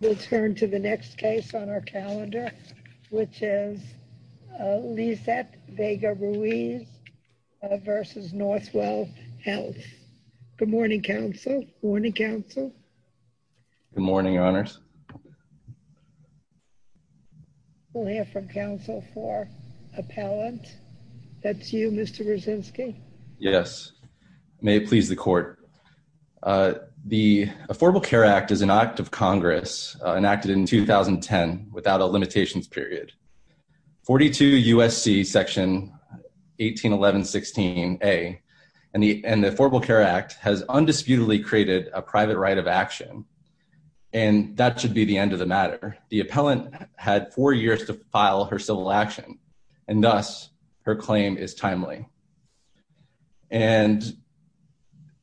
We'll turn to the next case on our calendar, which is Lizette Vega-Ruiz v. Northwell Health. Good morning, counsel. Good morning, counsel. Good morning, Your Honors. We'll hear from counsel for appellant. That's you, Mr. Brzezinski. Yes. May it please the court. The Affordable Care Act is an act of Congress enacted in 2010 without a limitations period. 42 U.S.C. Section 1811-16A and the Affordable Care Act has undisputedly created a private right of action, and that should be the end of the matter. The appellant had four years to file her civil action, and thus her claim is timely. And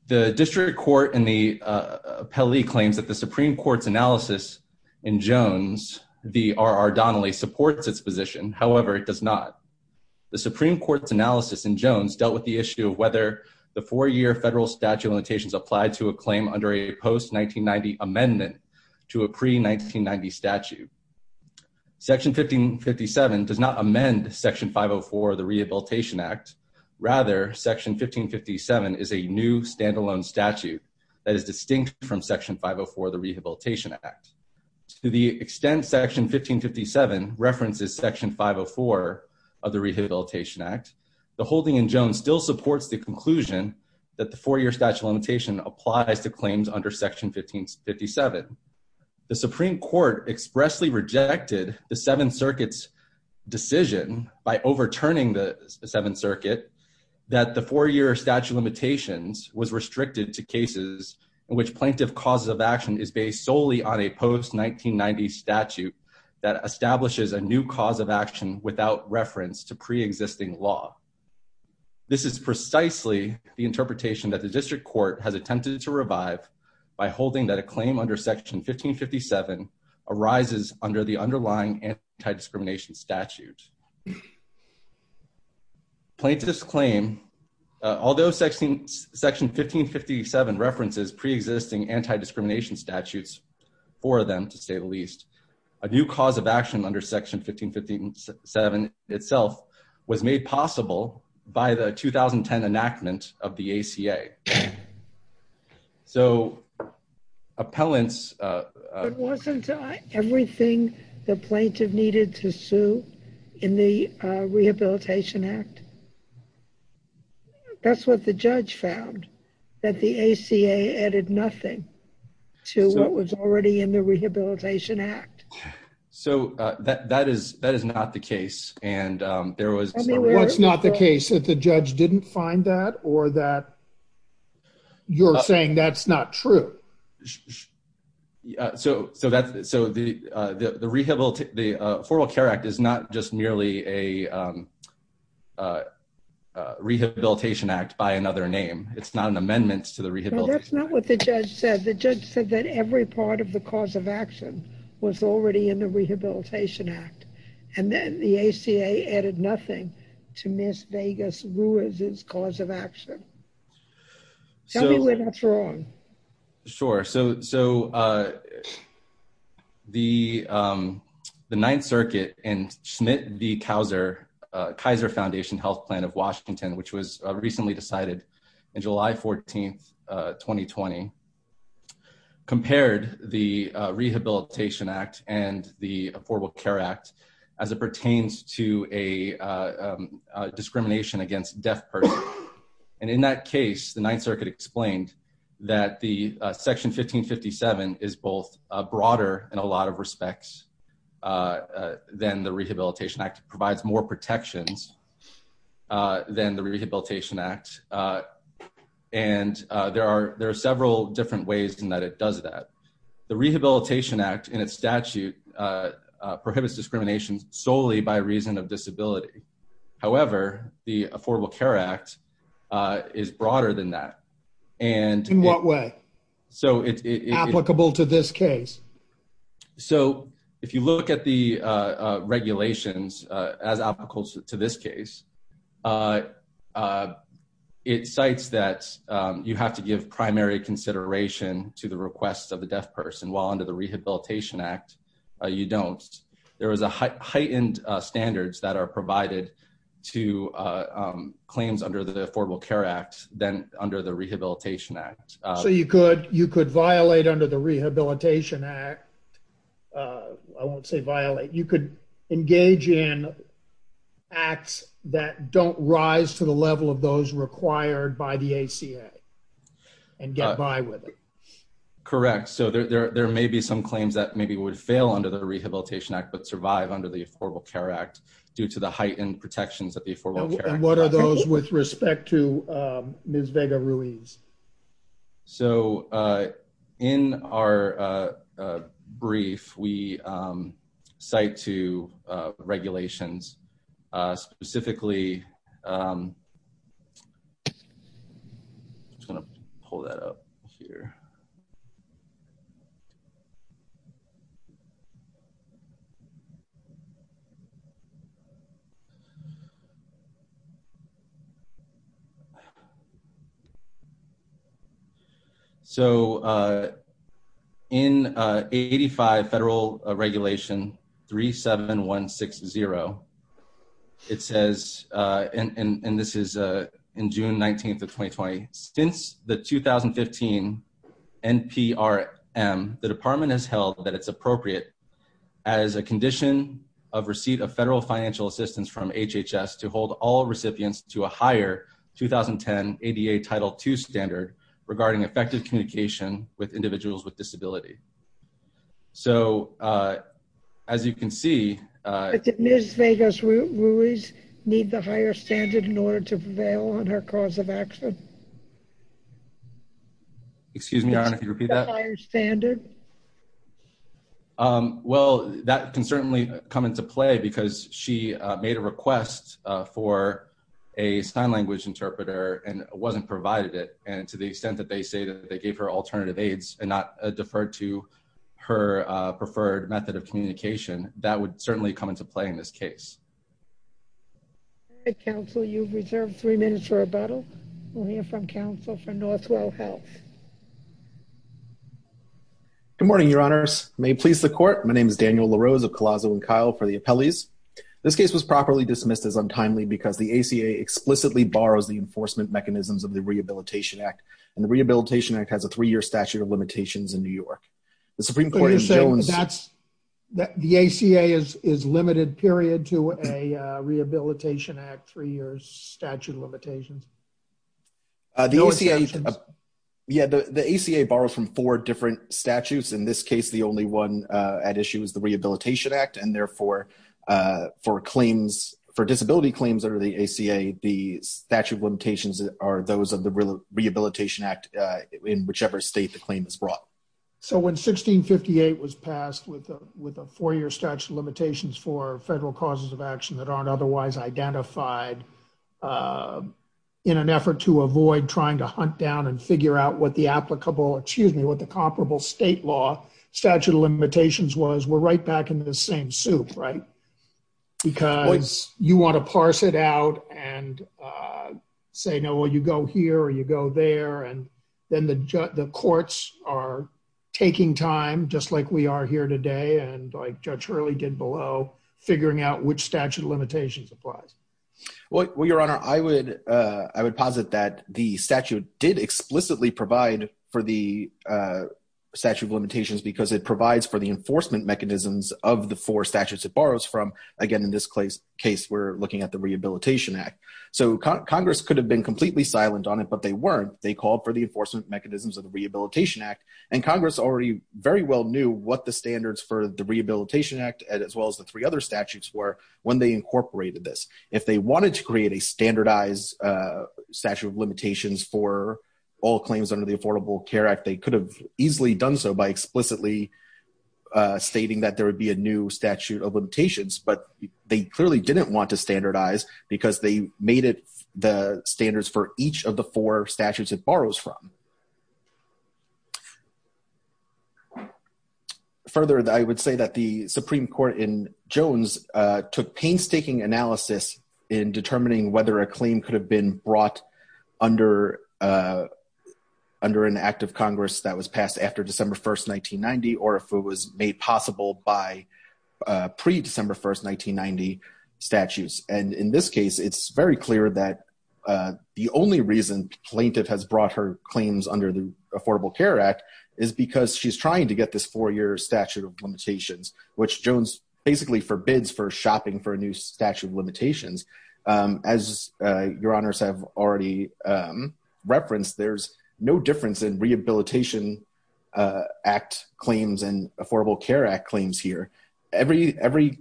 the district court and the appellee claims that the Supreme Court's analysis in Jones v. R. R. Donnelly supports its position. However, it does not. The Supreme Court's analysis in Jones dealt with the issue of whether the four-year federal statute of limitations applied to a claim under a post-1990 amendment to a pre-1990 statute. Section 1557 does not amend Section 504 of the Rehabilitation Act. Rather, Section 1557 is a new standalone statute that is distinct from Section 504 of the Rehabilitation Act. To the extent Section 1557 references Section 504 of the Rehabilitation Act, the holding in Jones still supports the conclusion that the four-year statute of limitation applies to claims under Section 1557. The Supreme Court expressly rejected the Seventh Circuit's decision by overturning the Seventh Circuit that the four-year statute of limitations was restricted to cases in which plaintiff causes of action is based solely on a post-1990 statute that establishes a new cause of action without reference to pre-existing law. This is precisely the interpretation that the District Court has attempted to revive by holding that a claim under Section 1557 arises under the underlying anti-discrimination statute. Plaintiffs claim, although Section 1557 references pre-existing anti-discrimination statutes for them, to say the least, a new cause of action under Section 1557 itself was made possible by the 2010 enactment of the ACA. So, appellants… But wasn't everything the plaintiff needed to sue in the Rehabilitation Act? That's what the judge found, that the ACA added nothing to what was already in the Rehabilitation Act. So, that is not the case, and there was… What's not the case? That the judge didn't find that, or that you're saying that's not true? So, the Rehabilitation… the Formal Care Act is not just merely a Rehabilitation Act by another name. It's not an amendment to the Rehabilitation Act. No, that's not what the judge said. The judge said that every part of the cause of action was already in the Rehabilitation Act, and then the ACA added nothing to Ms. Vegas Ruiz's cause of action. Tell me where that's wrong. Sure. So, the Ninth Circuit and Schmidt v. Kaiser, Kaiser Foundation Health Plan of Washington, which was recently decided on July 14, 2020, compared the Rehabilitation Act and the Affordable Care Act as it pertains to a discrimination against deaf persons. And in that case, the Ninth Circuit explained that the Section 1557 is both broader in a lot of respects than the Rehabilitation Act. It provides more protections than the Rehabilitation Act, and there are several different ways in that it does that. The Rehabilitation Act, in its statute, prohibits discrimination solely by reason of disability. However, the Affordable Care Act is broader than that. In what way? Applicable to this case? So, if you look at the regulations as applicable to this case, it cites that you have to give primary consideration to the requests of the deaf person, while under the Rehabilitation Act, you don't. There is heightened standards that are provided to claims under the Affordable Care Act than under the Rehabilitation Act. So, you could violate under the Rehabilitation Act. I won't say violate. You could engage in acts that don't rise to the level of those required by the ACA and get by with it. Correct. So, there may be some claims that maybe would fail under the Rehabilitation Act, but survive under the Affordable Care Act due to the heightened protections that the Affordable Care Act provides. And what are those with respect to Ms. Vega Ruiz? So, in our brief, we cite two regulations. Specifically, I'm just going to pull that up here. So, in 85 Federal Regulation 37160, it says, and this is in June 19th of 2020, since the 2015 NPRM, the department has held that it's appropriate as a condition of receipt of federal financial assistance from HHS to hold all recipients to a higher 2010 ADA Title II standard regarding effective communication with individuals with disability. So, as you can see... But did Ms. Vega Ruiz need the higher standard in order to prevail on her cause of action? Excuse me, Your Honor, can you repeat that? The higher standard? Well, that can certainly come into play because she made a request for a sign language interpreter and wasn't provided it. And to the extent that they say that they gave her alternative aids and not deferred to her preferred method of communication, that would certainly come into play in this case. All right, counsel, you've reserved three minutes for rebuttal. We'll hear from counsel from Northwell Health. Good morning, Your Honors. May it please the court, my name is Daniel LaRose of Collazo and Kyle for the appellees. This case was properly dismissed as untimely because the ACA explicitly borrows the enforcement mechanisms of the Rehabilitation Act, and the Rehabilitation Act has a three-year statute of limitations in New York. So you're saying that the ACA is limited, period, to a Rehabilitation Act three-year statute of limitations? Yeah, the ACA borrows from four different statutes. In this case, the only one at issue is the Rehabilitation Act. And therefore, for disability claims under the ACA, the statute of limitations are those of the Rehabilitation Act in whichever state the claim is brought. So when 1658 was passed with a four-year statute of limitations for federal causes of action that aren't otherwise identified, in an effort to avoid trying to hunt down and figure out what the applicable, excuse me, what the comparable state law statute of limitations was, we're right back in the same soup, right? Because you want to parse it out and say, no, well, you go here or you go there, and then the courts are taking time, just like we are here today, and like Judge Hurley did below, figuring out which statute of limitations applies. Well, Your Honor, I would posit that the statute did explicitly provide for the statute of limitations because it provides for the enforcement mechanisms of the four statutes it borrows from. Again, in this case, we're looking at the Rehabilitation Act. So Congress could have been completely silent on it, but they weren't. They called for the enforcement mechanisms of the Rehabilitation Act, and Congress already very well knew what the standards for the Rehabilitation Act, as well as the three other statutes were when they incorporated this. If they wanted to create a standardized statute of limitations for all claims under the Affordable Care Act, they could have easily done so by explicitly stating that there would be a new statute of limitations. But they clearly didn't want to standardize because they made it the standards for each of the four statutes it borrows from. Further, I would say that the Supreme Court in Jones took painstaking analysis in determining whether a claim could have been brought under an act of Congress that was passed after December 1, 1990, or if it was made possible by pre-December 1, 1990, statutes. And in this case, it's very clear that the only reason plaintiff has brought her claims under the Affordable Care Act is because she's trying to get this four-year statute of limitations, which Jones basically forbids for shopping for a new statute of limitations. As Your Honors have already referenced, there's no difference in Rehabilitation Act claims and Affordable Care Act claims here. Every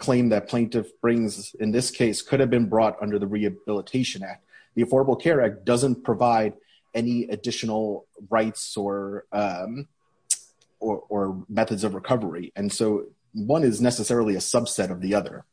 claim that plaintiff brings in this case could have been brought under the Rehabilitation Act. The Affordable Care Act doesn't provide any additional rights or methods of recovery. And so one is necessarily a subset of the other.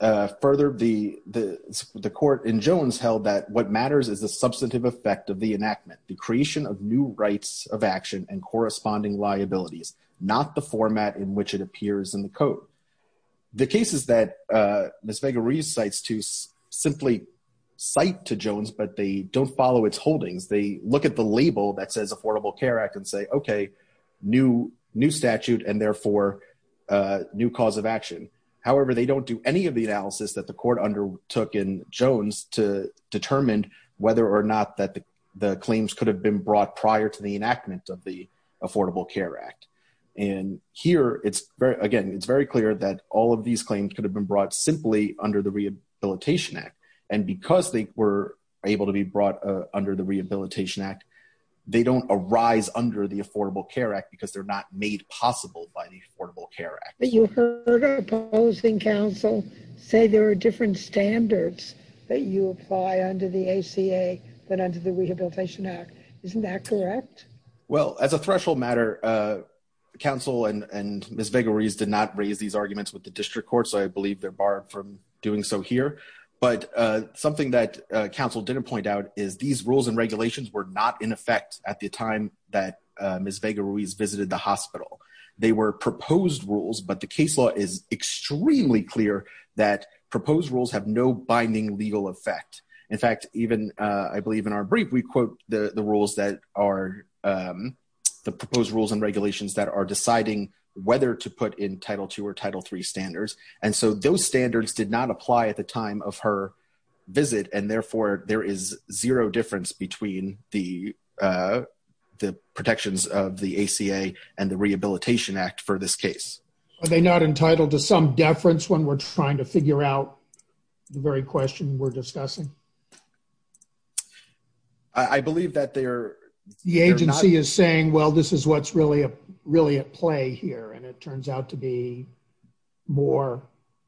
Further, the court in Jones held that what matters is the substantive effect of the enactment, the creation of new rights of action and corresponding liabilities, not the format in which it appears in the code. The cases that Ms. Vega recites to simply cite to Jones but they don't follow its holdings, they look at the label that says Affordable Care Act and say, okay, new statute and therefore new cause of action. However, they don't do any of the analysis that the court undertook in Jones to determine whether or not that the claims could have been brought prior to the enactment of the Affordable Care Act. And here, again, it's very clear that all of these claims could have been brought simply under the Rehabilitation Act. And because they were able to be brought under the Rehabilitation Act, they don't arise under the Affordable Care Act because they're not made possible by the Affordable Care Act. But you heard our opposing counsel say there are different standards that you apply under the ACA than under the Rehabilitation Act. Isn't that correct? Well, as a threshold matter, counsel and Ms. Vega-Ruiz did not raise these arguments with the district court, so I believe they're barred from doing so here. But something that counsel didn't point out is these rules and regulations were not in effect at the time that Ms. Vega-Ruiz visited the hospital. They were proposed rules, but the case law is extremely clear that proposed rules have no binding legal effect. In fact, even I believe in our brief, we quote the proposed rules and regulations that are deciding whether to put in Title II or Title III standards. And so those standards did not apply at the time of her visit, and therefore there is zero difference between the protections of the ACA and the Rehabilitation Act for this case. Are they not entitled to some deference when we're trying to figure out the very question we're discussing? I believe that they are not. The agency is saying, well, this is what's really at play here, and it turns out to be more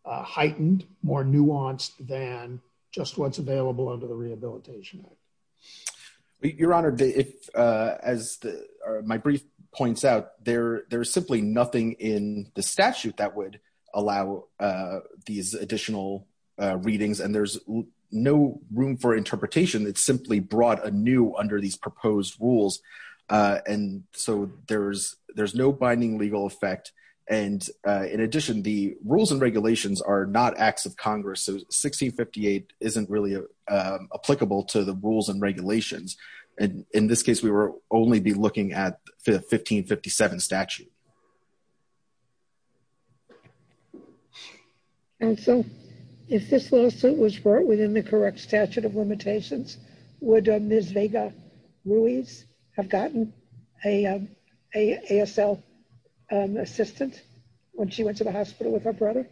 heightened, more nuanced than just what's available under the Rehabilitation Act. Your Honor, as my brief points out, there is simply nothing in the statute that would allow these additional readings. And there's no room for interpretation that's simply brought anew under these proposed rules, and so there's no binding legal effect. And in addition, the rules and regulations are not acts of Congress, so 1658 isn't really applicable to the rules and regulations. And in this case, we would only be looking at the 1557 statute. Counsel, if this lawsuit was brought within the correct statute of limitations, would Ms. Vega-Ruiz have gotten an ASL assistant when she went to the hospital with her brother?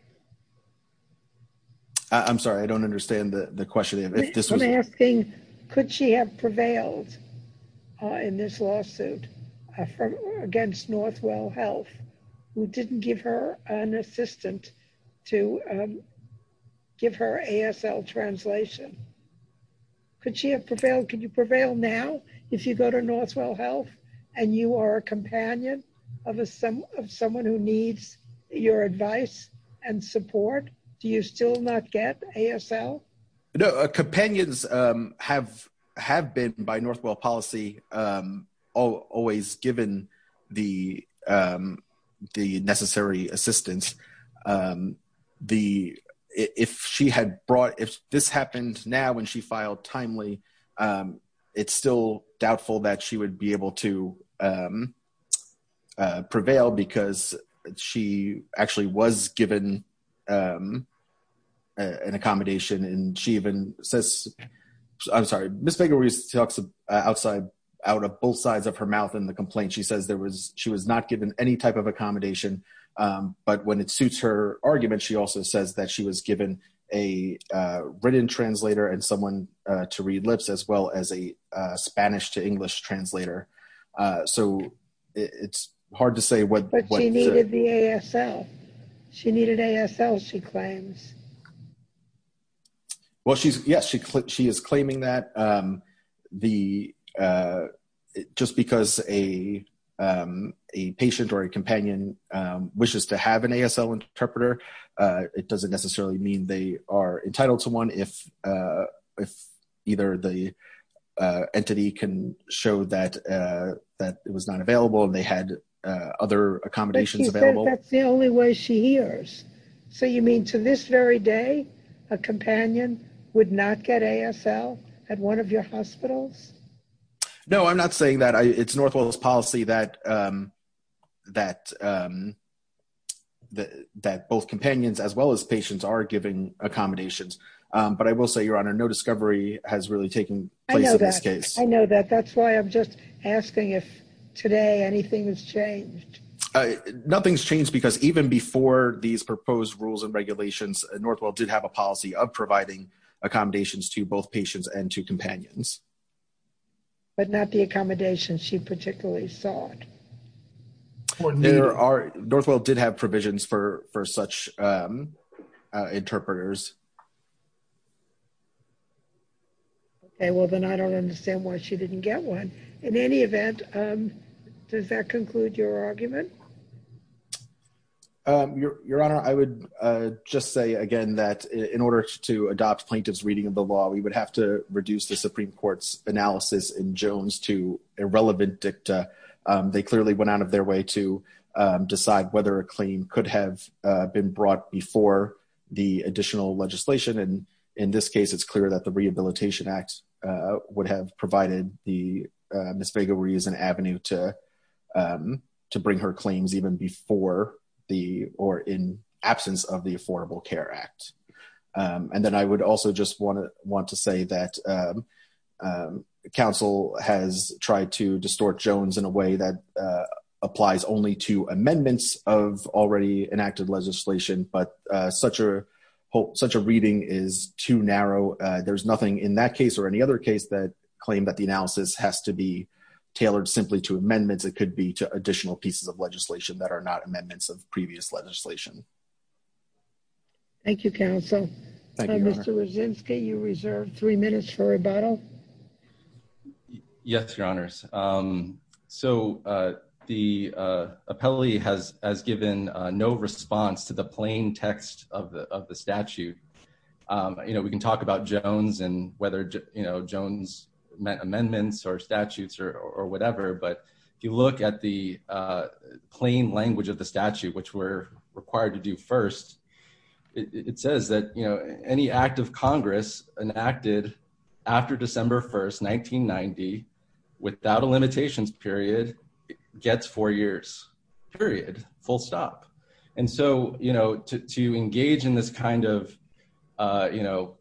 I'm sorry, I don't understand the question. I'm asking, could she have prevailed in this lawsuit against Northwell Health, who didn't give her an assistant to give her ASL translation? Could she have prevailed? Could you prevail now if you go to Northwell Health and you are a companion of someone who needs your advice and support? Do you still not get ASL? Companions have been, by Northwell policy, always given the necessary assistance. If this happened now when she filed timely, it's still doubtful that she would be able to prevail because she actually was given an accommodation. I'm sorry, Ms. Vega-Ruiz talks outside, out of both sides of her mouth in the complaint. She says she was not given any type of accommodation. But when it suits her argument, she also says that she was given a written translator and someone to read lips as well as a Spanish to English translator. So it's hard to say what... But she needed the ASL. She needed ASL, she claims. Well, yes, she is claiming that. Just because a patient or a companion wishes to have an ASL interpreter, it doesn't necessarily mean they are entitled to one if either the entity can show that it was not available and they had other accommodations available. That's the only way she hears. So you mean to this very day, a companion would not get ASL at one of your hospitals? No, I'm not saying that. It's Northwell's policy that both companions as well as patients are given accommodations. But I will say, Your Honor, no discovery has really taken place in this case. I know that. That's why I'm just asking if today anything has changed. Nothing's changed because even before these proposed rules and regulations, Northwell did have a policy of providing accommodations to both patients and to companions. But not the accommodations she particularly sought. Northwell did have provisions for such interpreters. Okay, well, then I don't understand why she didn't get one. In any event, does that conclude your argument? Your Honor, I would just say again that in order to adopt plaintiff's reading of the law, we would have to reduce the Supreme Court's analysis in Jones to irrelevant dicta. They clearly went out of their way to decide whether a claim could have been brought before the additional legislation. And in this case, it's clear that the Rehabilitation Act would have provided Ms. Vega-Ruiz an avenue to bring her claims even before or in absence of the Affordable Care Act. And then I would also just want to say that counsel has tried to distort Jones in a way that applies only to amendments of already enacted legislation. But such a reading is too narrow. There's nothing in that case or any other case that claim that the analysis has to be tailored simply to amendments. It could be to additional pieces of legislation that are not amendments of previous legislation. Thank you, counsel. Mr. Wyszynski, you reserve three minutes for rebuttal. Yes, Your Honors. So the appellee has given no response to the plain text of the statute. You know, we can talk about Jones and whether, you know, Jones meant amendments or statutes or whatever. But if you look at the plain language of the statute, which we're required to do first, it says that, you know, any act of Congress enacted after December 1st, 1990, without a limitations period, gets four years, period, full stop. And so, you know, to engage in this kind of, you know,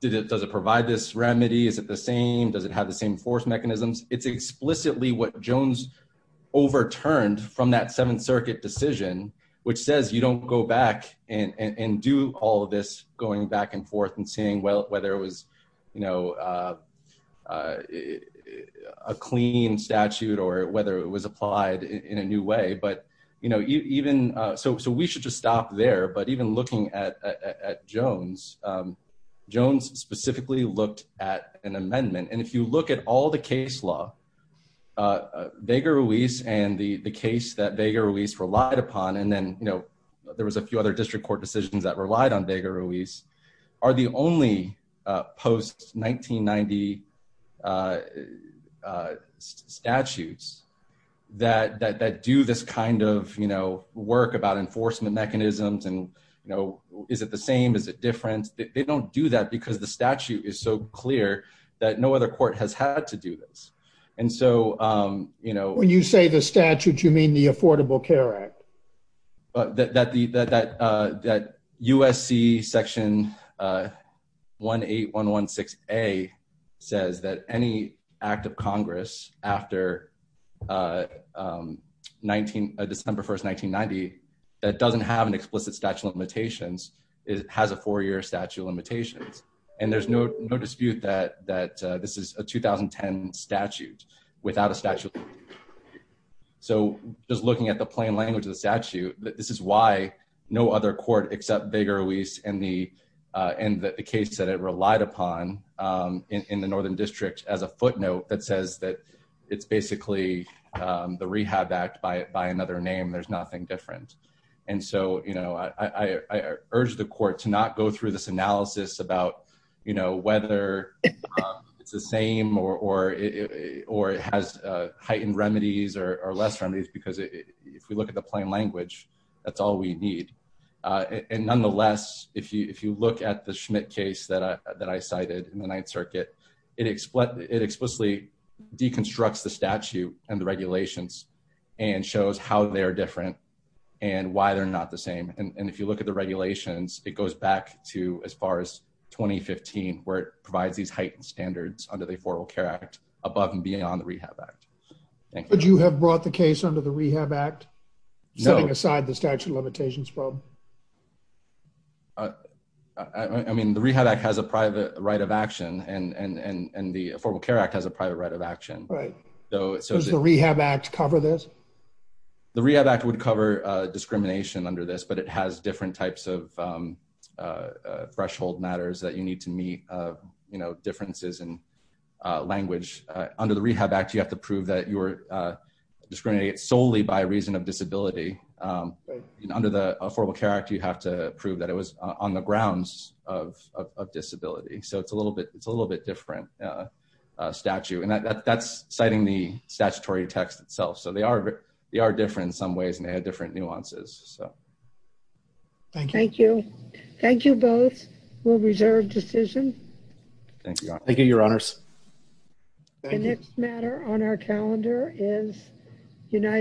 does it provide this remedy? Is it the same? Does it have the same force mechanisms? It's explicitly what Jones overturned from that Seventh Circuit decision, which says you don't go back and do all of this going back and forth and seeing whether it was, you know, a clean statute or whether it was applied in a new way. But, you know, even so, so we should just stop there. But even looking at Jones, Jones specifically looked at an amendment. And if you look at all the case law, Vega-Ruiz and the case that Vega-Ruiz relied upon, and then, you know, there was a few other district court decisions that relied on Vega-Ruiz, are the only post-1990 statutes that do this kind of, you know, work about enforcement mechanisms and, you know, is it the same? Is it different? They don't do that because the statute is so clear that no other court has had to do this. When you say the statute, you mean the Affordable Care Act? That USC Section 18116A says that any act of Congress after December 1, 1990 that doesn't have an explicit statute of limitations has a four-year statute of limitations. And there's no dispute that this is a 2010 statute without a statute of limitations. So just looking at the plain language of the statute, this is why no other court except Vega-Ruiz and the case that it relied upon in the Northern District has a footnote that says that it's basically the Rehab Act by another name. There's nothing different. And so, you know, I urge the court to not go through this analysis about, you know, whether it's the same or it has heightened remedies or less remedies because if we look at the plain language, that's all we need. And nonetheless, if you look at the Schmidt case that I cited in the Ninth Circuit, it explicitly deconstructs the statute and the regulations and shows how they're different and why they're not the same. And if you look at the regulations, it goes back to as far as 2015 where it provides these heightened standards under the Affordable Care Act above and beyond the Rehab Act. Would you have brought the case under the Rehab Act, setting aside the statute of limitations problem? I mean, the Rehab Act has a private right of action and the Affordable Care Act has a private right of action. Right. Does the Rehab Act cover this? The Rehab Act would cover discrimination under this, but it has different types of threshold matters that you need to meet, you know, differences in language. Under the Rehab Act, you have to prove that you were discriminated solely by reason of disability. Under the Affordable Care Act, you have to prove that it was on the grounds of disability. So it's a little bit different statute. And that's citing the statutory text itself. So they are different in some ways and they have different nuances. Thank you. Thank you both. We'll reserve decision. Thank you, Your Honors. Thank you. The next matter on our calendar is United States.